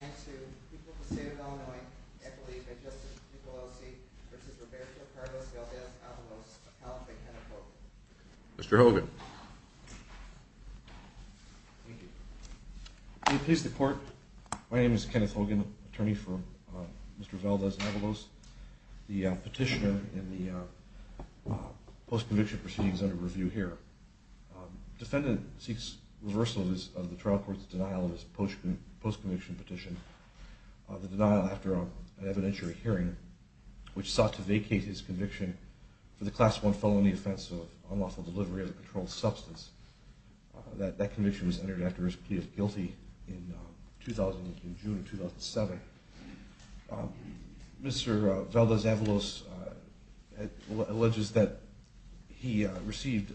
and to the people of the state of Illinois, I believe that Justice Ducolosi v. Roberto Cardoza-Valdez-Avalos appellate by Kenneth Hogan. Mr. Hogan. Thank you. May it please the court, my name is Kenneth Hogan, attorney for Mr. Valdez-Avalos, the petitioner in the post-conviction proceedings under review here. Defendant seeks reversal of the trial court's denial of his post-conviction petition, the denial after an evidentiary hearing, which sought to vacate his conviction for the class one felony offense of unlawful delivery of a controlled substance. That conviction was entered after his plea of guilty in June of 2007. Mr. Valdez-Avalos alleges that he received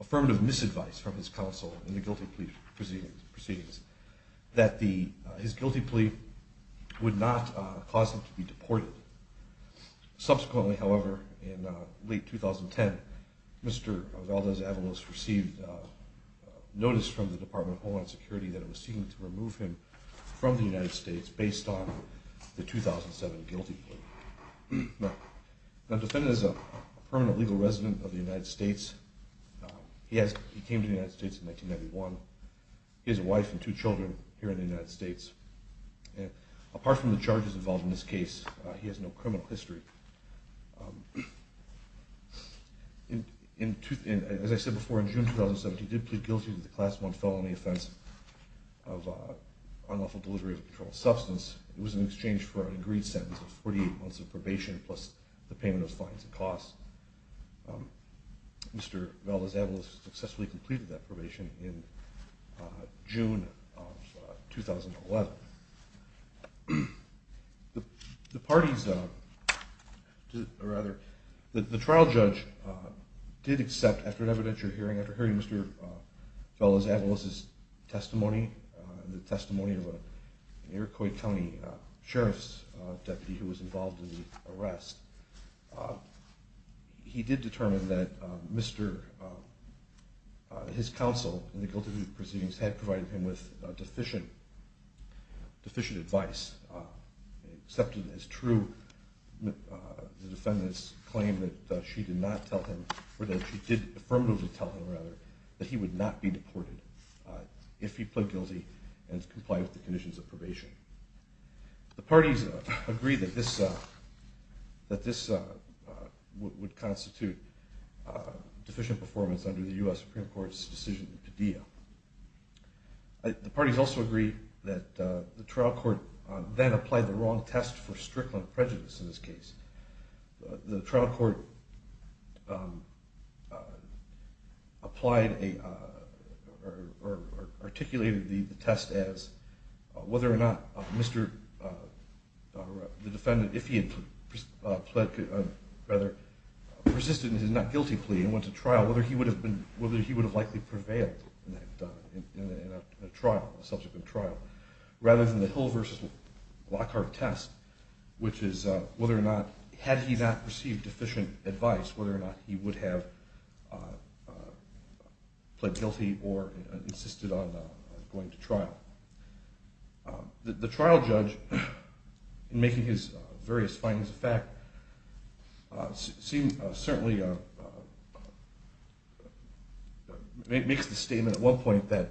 affirmative misadvice from his counsel in the guilty plea proceedings, that his guilty plea would not cause him to be deported. Subsequently, however, in late 2010, Mr. Valdez-Avalos received notice from the Department of Homeland Security that it was seeking to remove him from the United States based on the 2007 guilty plea. Now, the defendant is a permanent legal resident of the United States. He came to the United States in 1991. He has a wife and two children here in the United States. Apart from the charges involved in this case, he has no criminal history. As I said before, in June 2017, he did plead guilty to the class one felony offense of unlawful delivery of a controlled substance. It was in exchange for an agreed sentence of 48 months of probation plus the payment of fines and costs. Mr. Valdez-Avalos successfully completed that probation in June of 2011. The trial judge did accept, after an evidentiary hearing, after hearing Mr. Valdez-Avalos' testimony, the testimony of an Iroquois County Sheriff's Deputy who was involved in the arrest, he did determine that his counsel in the guilty plea proceedings had provided him with deficient advice, accepted as true the defendant's claim that she did not tell him, or that she did affirmatively tell him, rather, that he would not be deported if he plead guilty and complied with the conditions of probation. The parties agreed that this would constitute deficient performance under the U.S. Supreme Court's decision to deal. The parties also agreed that the trial court then applied the wrong test for strickland prejudice in this case. The trial court applied a, or articulated the test as whether or not Mr., the defendant, if he had pled, rather, persisted in his not guilty plea and went to trial, whether he would have been, whether he would have likely prevailed in a trial, a subsequent trial, rather than the Hill versus Lockhart test, which is whether or not, had he not received deficient advice, whether or not he would have pled guilty or insisted on going to trial. The trial judge, in making his various findings of fact, seemed, certainly, makes the statement at one point that,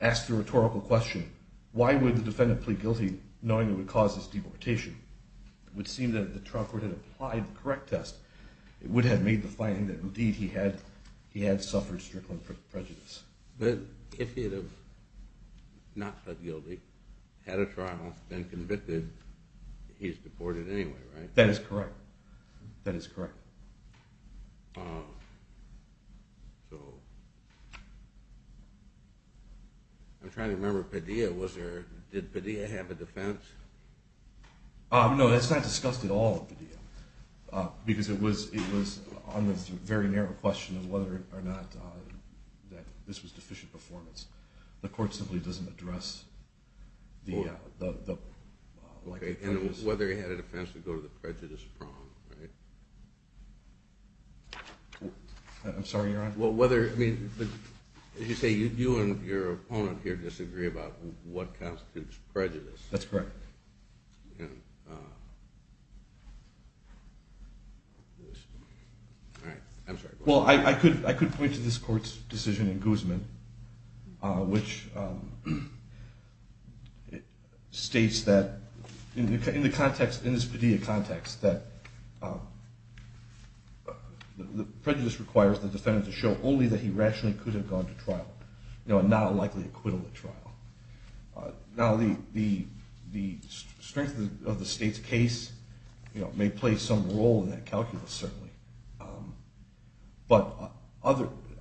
asked the rhetorical question, why would the defendant plead guilty knowing it would cause his deportation? It would seem that the trial court had applied the correct test. It would have made the finding that, indeed, he had suffered strickland prejudice. But if he would have not pled guilty, had a trial, then convicted, he's deported anyway, right? That is correct. That is correct. I'm trying to remember, Padilla, was there, did Padilla have a defense? No, that's not discussed at all, Padilla, because it was on this very narrow question of whether or not that this was deficient performance. The court simply doesn't address the, like the prejudice. And whether he had a defense would go to the prejudice prong, right? I'm sorry, Your Honor? Well, whether, I mean, as you say, you and your opponent here disagree about what constitutes prejudice. That's correct. All right, I'm sorry. Well, I could point to this court's decision in Guzman, which states that, in the context, in this Padilla context, that the prejudice requires the defendant to show only that he rationally could have gone to trial, you know, and not likely acquittal at trial. Now, the strength of the state's case, may play some role in that calculus, certainly. But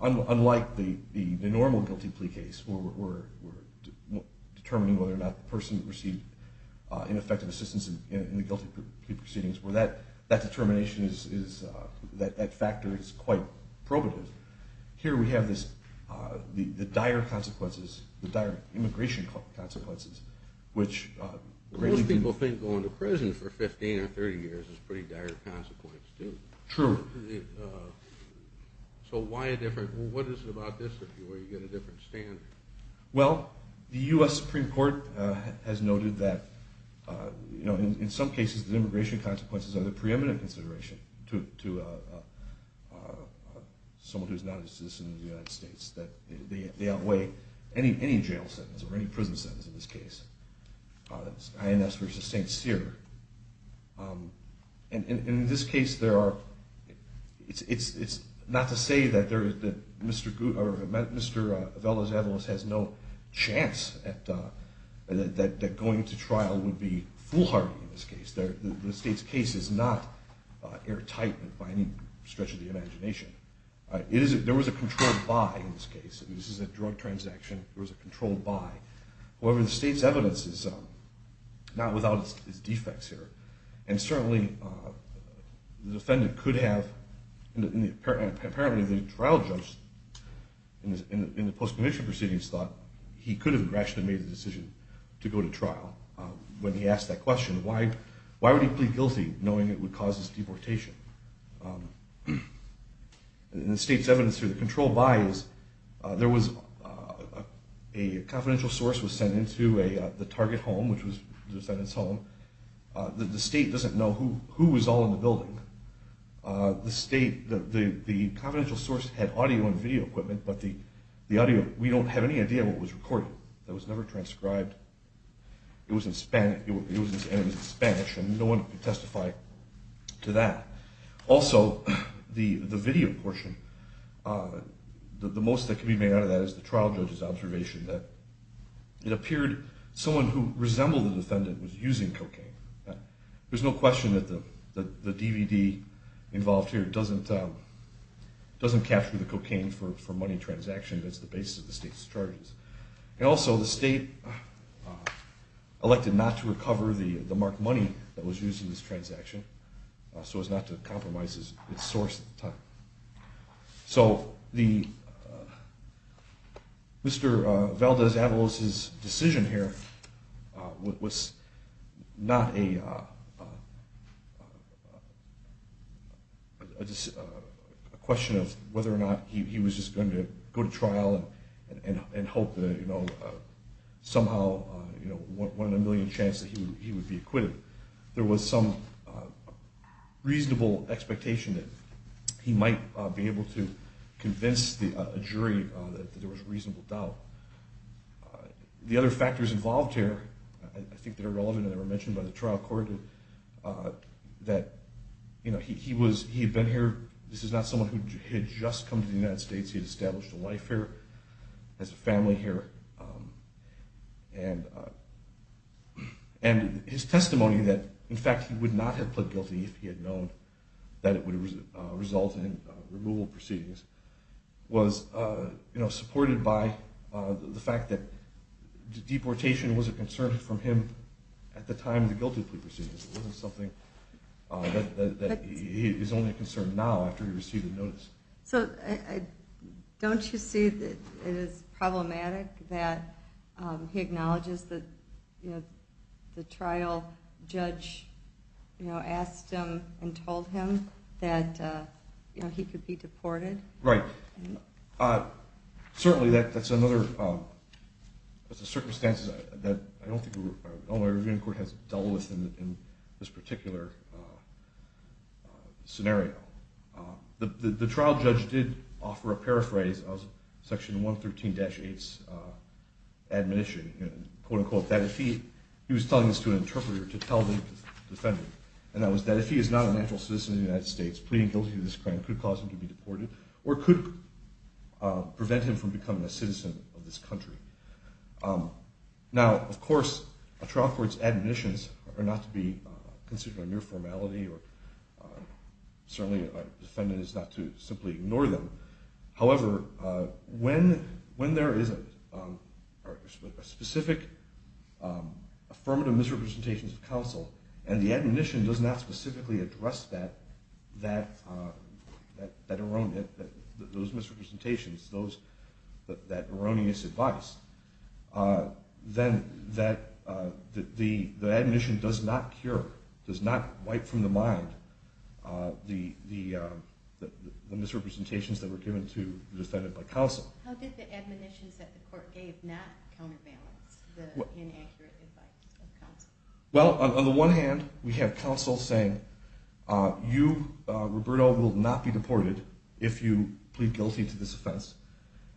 unlike the normal guilty plea case, where we're determining whether or not the person received ineffective assistance in the guilty plea proceedings, where that determination is, that factor is quite probative. Here we have this, the dire consequences, the dire immigration consequences, which... Most people think going to prison for 15 or 30 years is a pretty dire consequence, too. True. So why a different, well, what is it about this that you get a different standard? Well, the U.S. Supreme Court has noted that, you know, in some cases, the immigration consequences are the preeminent consideration to someone who's not a citizen of the United States, that they outweigh. Any jail sentence, or any prison sentence in this case. INS versus St. Cyr. And in this case, there are... It's not to say that Mr. Velazquez has no chance that going to trial would be foolhardy in this case. The state's case is not airtight by any stretch of the imagination. There was a control by, in this case, and this is a drug transaction, there was a control by. However, the state's evidence is not without its defects here and certainly the defendant could have, and apparently the trial judge in the post-commission proceedings thought he could have rationally made the decision to go to trial when he asked that question. Why would he plead guilty knowing it would cause his deportation? In the state's evidence here, the control by is there was a confidential source was sent into the target home, which was the defendant's home. The state doesn't know who was all in the building. The state, the confidential source had audio and video equipment, but the audio, we don't have any idea what was recorded. That was never transcribed. It was in Spanish and no one could testify to that. Also, the video portion, the most that can be made out of that is the trial judge's observation that it appeared someone who resembled the defendant was using cocaine. There's no question that the DVD involved here doesn't capture the cocaine for money transaction. That's the basis of the state's charges. And also, the state elected not to recover the marked money that was used in this transaction so as not to compromise its source at the time. So, Mr. Valdez-Avalos's decision here was not a question of whether or not he was just going to go to trial and hope that somehow, one in a million chance that he would be acquitted. There was some reasonable expectation that he might be able to convince a jury that there was reasonable doubt. The other factors involved here, I think they're relevant and they were mentioned by the trial court, that he had been here. This is not someone who had just come to the United States. He had established a life here, has a family here. And his testimony that, in fact, he would not have pled guilty if he had known that it would result in removal proceedings was supported by the fact that deportation was a concern from him at the time of the guilty plea proceedings. It wasn't something that is only a concern now after he received a notice. So, don't you see that it is problematic that he acknowledges that the trial judge asked him and told him that he could be deported? Right. Certainly, that's another circumstance that I don't think Illinois Revealing Court has dealt with in this particular scenario. The trial judge did offer a paraphrase of section 113-8's admonition, quote-unquote, that if he, he was telling this to an interpreter to tell the defendant, and that was that if he is not a natural citizen of the United States, pleading guilty to this crime could cause him to be deported or could prevent him from becoming a citizen of this country. Now, of course, a trial court's admonitions are not to be considered a mere formality or certainly, a defendant is not to simply ignore them. However, when there is a specific affirmative misrepresentations of counsel and the admonition does not specifically address that erroneous, those misrepresentations, that erroneous advice, then the admonition does not cure, does not wipe from the mind the misrepresentations that were given to the defendant by counsel. How did the admonitions that the court gave not counterbalance the inaccurate advice of counsel? Well, on the one hand, we have counsel saying, you, Roberto, will not be deported if you plead guilty to this offense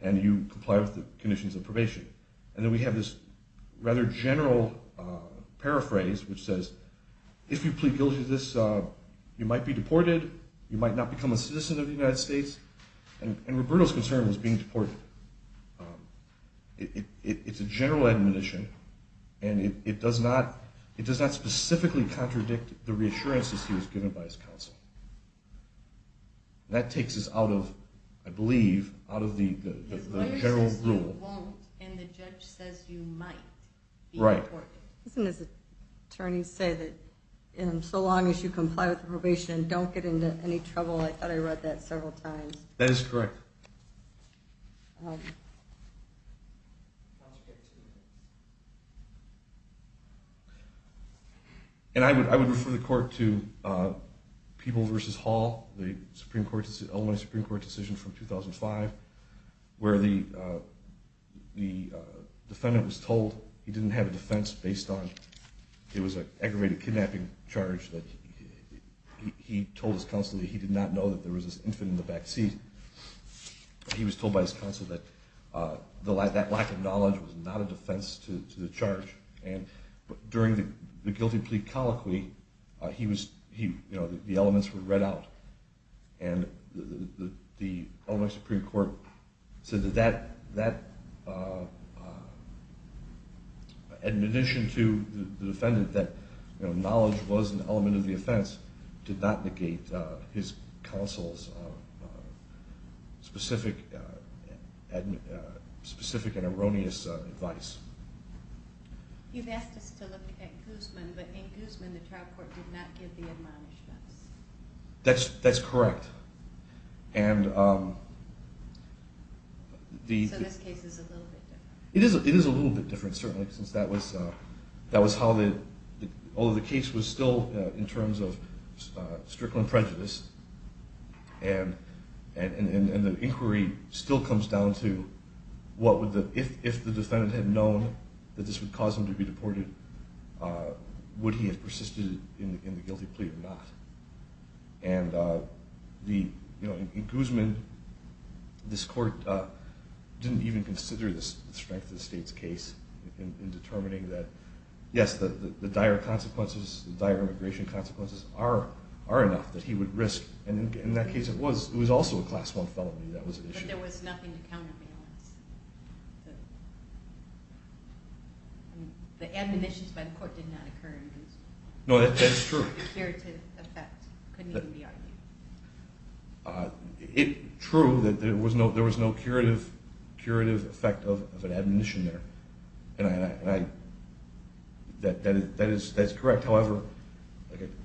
and you comply with the conditions of probation. And then we have this rather general paraphrase which says, if you plead guilty to this, you might be deported, you might not become a citizen of the United States and Roberto's concern was being deported. It's a general admonition and it does not specifically contradict the reassurances he was given by his counsel. That takes us out of, I believe, out of the general rule. The lawyer says you won't and the judge says you might be deported. Right. Doesn't his attorney say that in so long as you comply with the probation and don't get into any trouble? I thought I read that several times. That is correct. And I would refer the court to People v. Hall, the Supreme Court, Illinois Supreme Court decision from 2005 where the defendant was told he didn't have a defense based on, it was an aggravated kidnapping charge that he told his counsel that he did not know that there was this infant in the back seat. He was told by his counsel that that lack of knowledge was not a defense to the charge. And during the guilty plea colloquy, the elements were read out and the Illinois Supreme Court said that that admonition to the defendant that knowledge was an element of the offense did not negate his counsel's specific and erroneous advice. You've asked us to look at Guzman, but in Guzman, the trial court did not give the admonishments. That's correct. So this case is a little bit different. It is a little bit different, certainly, since that was how the, although the case was still in terms of strickland prejudice and the inquiry still comes down to what would the, if the defendant had known that this would cause him to be deported, would he have persisted in the guilty plea or not? And in Guzman, this court didn't even consider the strength of the state's case in determining that, yes, the dire consequences, the dire immigration consequences are enough that he would risk, and in that case, it was also a class one felony. That was the issue. But there was nothing to counterbalance. The admonitions by the court did not occur in Guzman. No, that is true. There was no curative effect, couldn't even be argued. It, true, that there was no curative effect of an admonition there. And I, that is correct. However,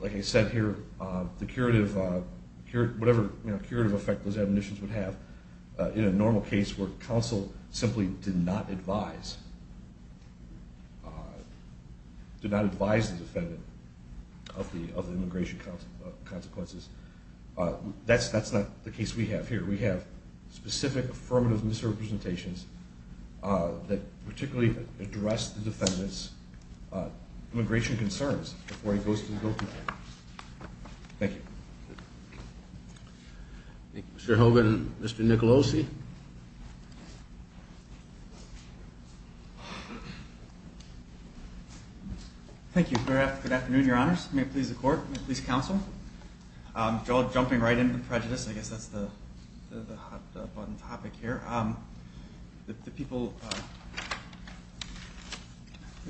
like I said here, the curative, whatever curative effect those admonitions would have in a normal case where counsel simply did not advise, did not advise the defendant of the immigration consequences, that's not the case we have here. We have specific affirmative misrepresentations that particularly address the defendant's immigration concerns before he goes to the guilty plea. Thank you. Mr. Hogan, Mr. Nicolosi. Thank you. Thank you. Good afternoon, your honors. May it please the court. May it please counsel. Jumping right into prejudice, I guess that's the hot button topic here. The people,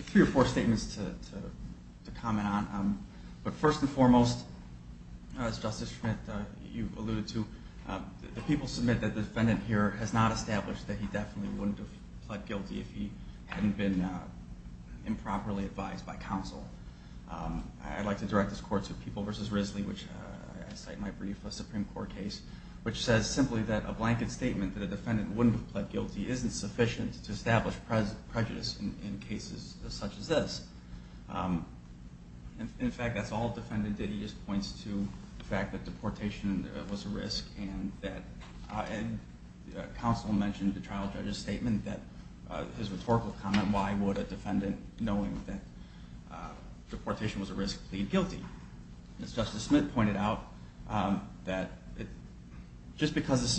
three or four statements to comment on. But first and foremost, as Justice Schmidt, you alluded to, the people submit that the defendant here has not established that he definitely wouldn't have pled guilty if he hadn't been improperly advised by counsel. I'd like to direct this court to People v. Risley, which I cite in my brief, a Supreme Court case, which says simply that a blanket statement that a defendant wouldn't have pled guilty isn't sufficient to establish prejudice in cases such as this. In fact, that's all the defendant did. He just points to the fact that deportation was a risk and that counsel mentioned the trial judge's statement that his rhetorical comment, why would a defendant, knowing that deportation was a risk, plead guilty? As Justice Schmidt pointed out, that just because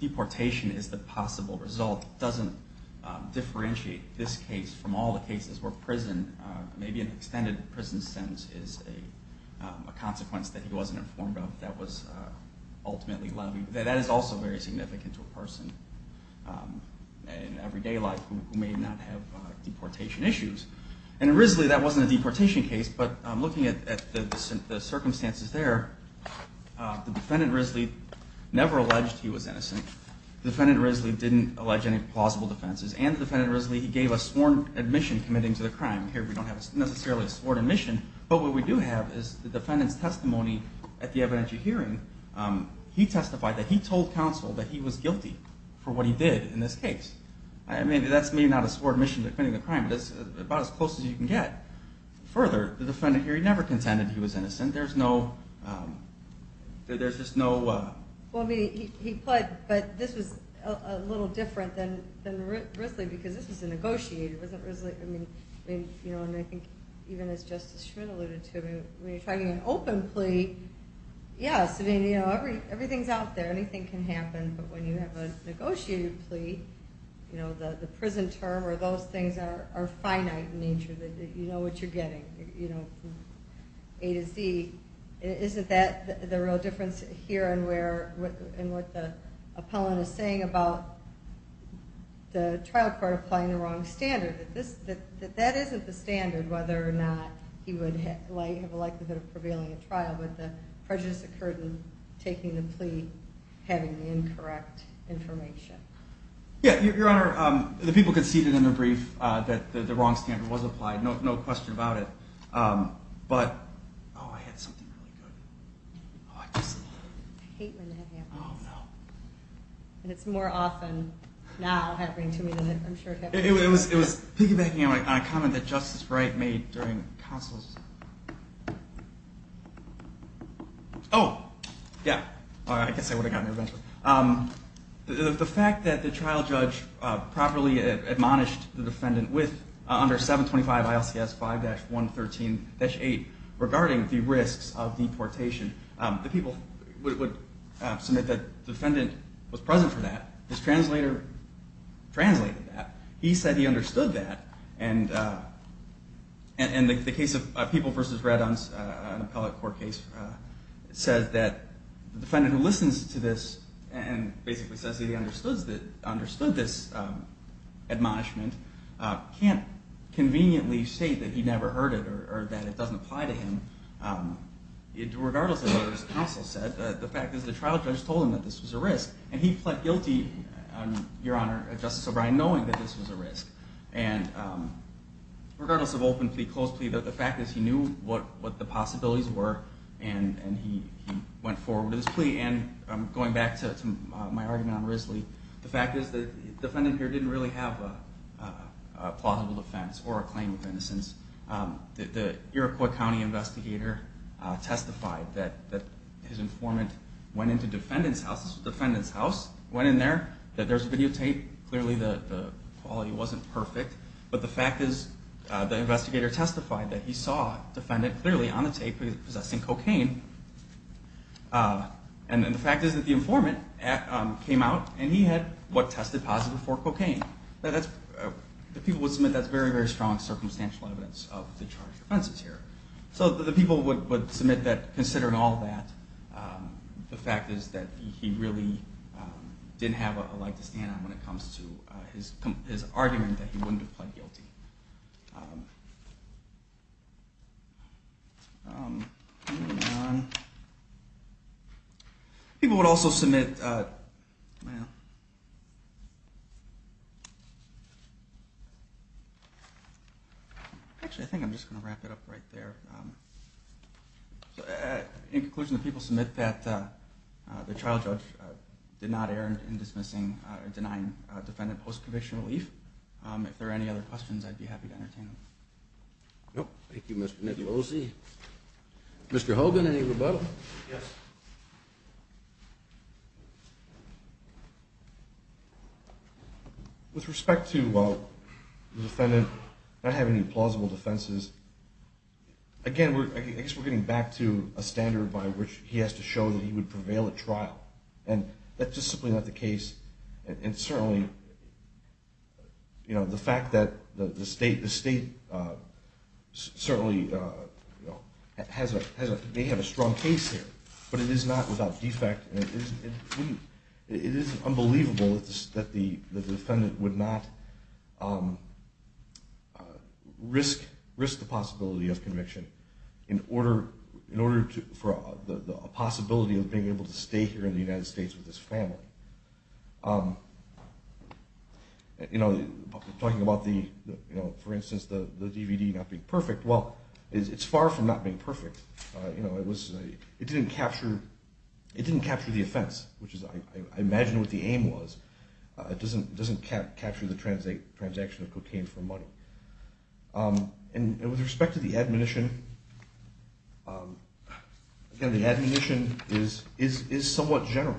deportation is the possible result doesn't differentiate this case from all the cases where prison, maybe an extended prison sentence, is a consequence that he wasn't informed of that was ultimately levied. That is also very significant to a person in everyday life who may not have deportation issues. And in Risley, that wasn't a deportation case, but looking at the circumstances there, the defendant, Risley, never alleged he was innocent. The defendant, Risley, didn't allege any plausible defenses. And the defendant, Risley, he gave a sworn admission committing to the crime. Here, we don't have necessarily a sworn admission, but what we do have is the defendant's testimony at the evidentiary hearing. He testified that he told counsel that he was guilty for what he did in this case. I mean, that's maybe not a sworn admission to committing the crime, but that's about as close as you can get. Further, the defendant here, he never contended he was innocent. There's no, there's just no. Well, I mean, he pled, but this was a little different than Risley because this was a negotiated, wasn't Risley, I mean, you know, and I think even as Justice Schmidt alluded to, when you're talking an open plea, yes, I mean, you know, everything's out there. Anything can happen, but when you have a negotiated plea, you know, the prison term or those things are finite in nature, that you know what you're getting, you know, from A to Z. Isn't that the real difference here and what the appellant is saying about the trial court applying the wrong standard, that that isn't the standard, whether or not he would have a likelihood of prevailing at trial, but the prejudice occurred in taking the plea, having the incorrect information. Yeah, Your Honor, the people conceded in the brief that the wrong standard was applied, no question about it, but, oh, I had something really good. Oh, I just, I hate when that happens. Oh, no. And it's more often now happening to me than I'm sure it happened to you. It was piggybacking on a comment that Justice Wright made during counsel's, oh, yeah, I guess I would have gotten your benchmark. The fact that the trial judge properly admonished the defendant with, under 725 ILCS 5-113-8, regarding the risks of deportation, the people would submit that the defendant was present for that, his translator translated that, he said he understood that, and the case of People v. Reddons, an appellate court case, says that the defendant who listens to this and basically says he understood this admonishment can't conveniently state that he never heard it or that it doesn't apply to him, regardless of what his counsel said. The fact is the trial judge told him that this was a risk, and he pled guilty, Your Honor, Justice O'Brien, knowing that this was a risk, and regardless of open plea, closed plea, the fact is he knew what the possibilities were, and he went forward with his plea, and going back to my argument on Risley, the fact is that the defendant here didn't really have a plausible defense or a claim of innocence. The Iroquois County investigator testified that his informant went into defendant's house, defendant's house, went in there, that there's videotape, clearly the quality wasn't perfect, but the fact is the investigator testified that he saw defendant clearly on the tape possessing cocaine, and the fact is that the informant came out and he had what tested positive for cocaine. The people would submit that's very, very strong circumstantial evidence of the charged offenses here. So the people would submit that, considering all of that, the fact is that he really didn't have a lot to stand on when it comes to his argument that he wouldn't have pled guilty. People would also submit, actually I think I'm just gonna wrap it up right there. In conclusion, the people submit that the trial judge did not err in dismissing or denying defendant post-conviction relief. If there are any other questions, I'd be happy to entertain them. Nope. Thank you, Mr. Nicolosi. Mr. Hogan, any rebuttal? Yes. With respect to the defendant not having any plausible defenses, again, I guess we're getting back to a standard by which he has to show that he would prevail at trial. And that's just simply not the case. And certainly, the fact that the state certainly may have a strong case here, but it is not without defect. And it is unbelievable that the defendant would not risk the possibility of conviction in order for a possibility of being able to stay here in the United States with his family. Talking about the, for instance, the DVD not being perfect. Well, it's far from not being perfect. It didn't capture the offense, which is I imagine what the aim was. It doesn't capture the transaction of cocaine for money. And with respect to the admonition, again, the admonition is somewhat general.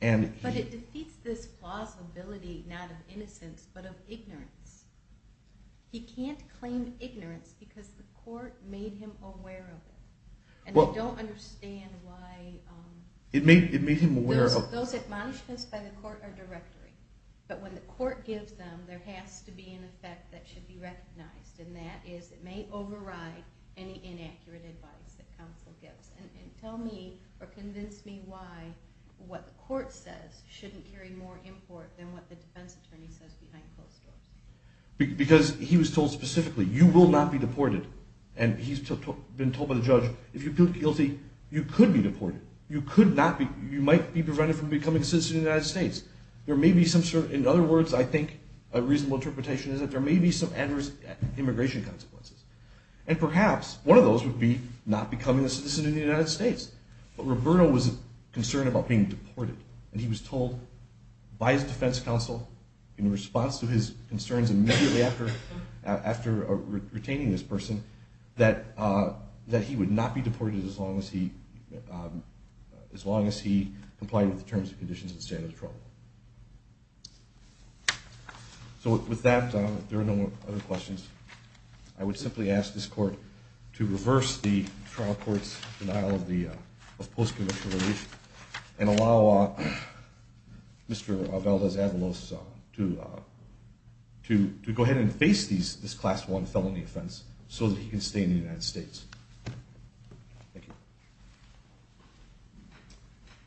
But it defeats this plausibility, not of innocence, but of ignorance. He can't claim ignorance because the court made him aware of it. And we don't understand why. It made him aware of. Those admonishments by the court are directory. But when the court gives them, there has to be an effect that should be recognized. And that is it may override any inaccurate advice that counsel gives. And tell me or convince me why what the court says shouldn't carry more import than what the defense attorney says behind closed doors. Because he was told specifically, you will not be deported. And he's been told by the judge, if you plead guilty, you could be deported. You could not be, you might be prevented from becoming a citizen of the United States. There may be some sort of, in other words, I think a reasonable interpretation is that there may be some adverse immigration consequences. And perhaps one of those would be not becoming a citizen of the United States. But Roberto was concerned about being deported. And he was told by his defense counsel in response to his concerns immediately after retaining this person that he would not be deported as long as he complied with the terms and conditions and standard of trouble. So with that, if there are no other questions, I would simply ask this court to reverse the trial court's denial of the post-conviction relief and allow Mr. Valdes-Avalos to go ahead and face this class one felony offense so that he can stay in the United States. Thank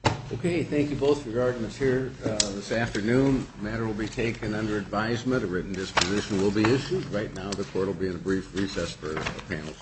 you. Okay, thank you both for your arguments here this afternoon. Matter will be taken under advisement. A written disposition will be issued. Right now, the court will be in a brief recess for the panel seats. Thank you. Thank you. Thank you. Thank you. Thank you. Thank you.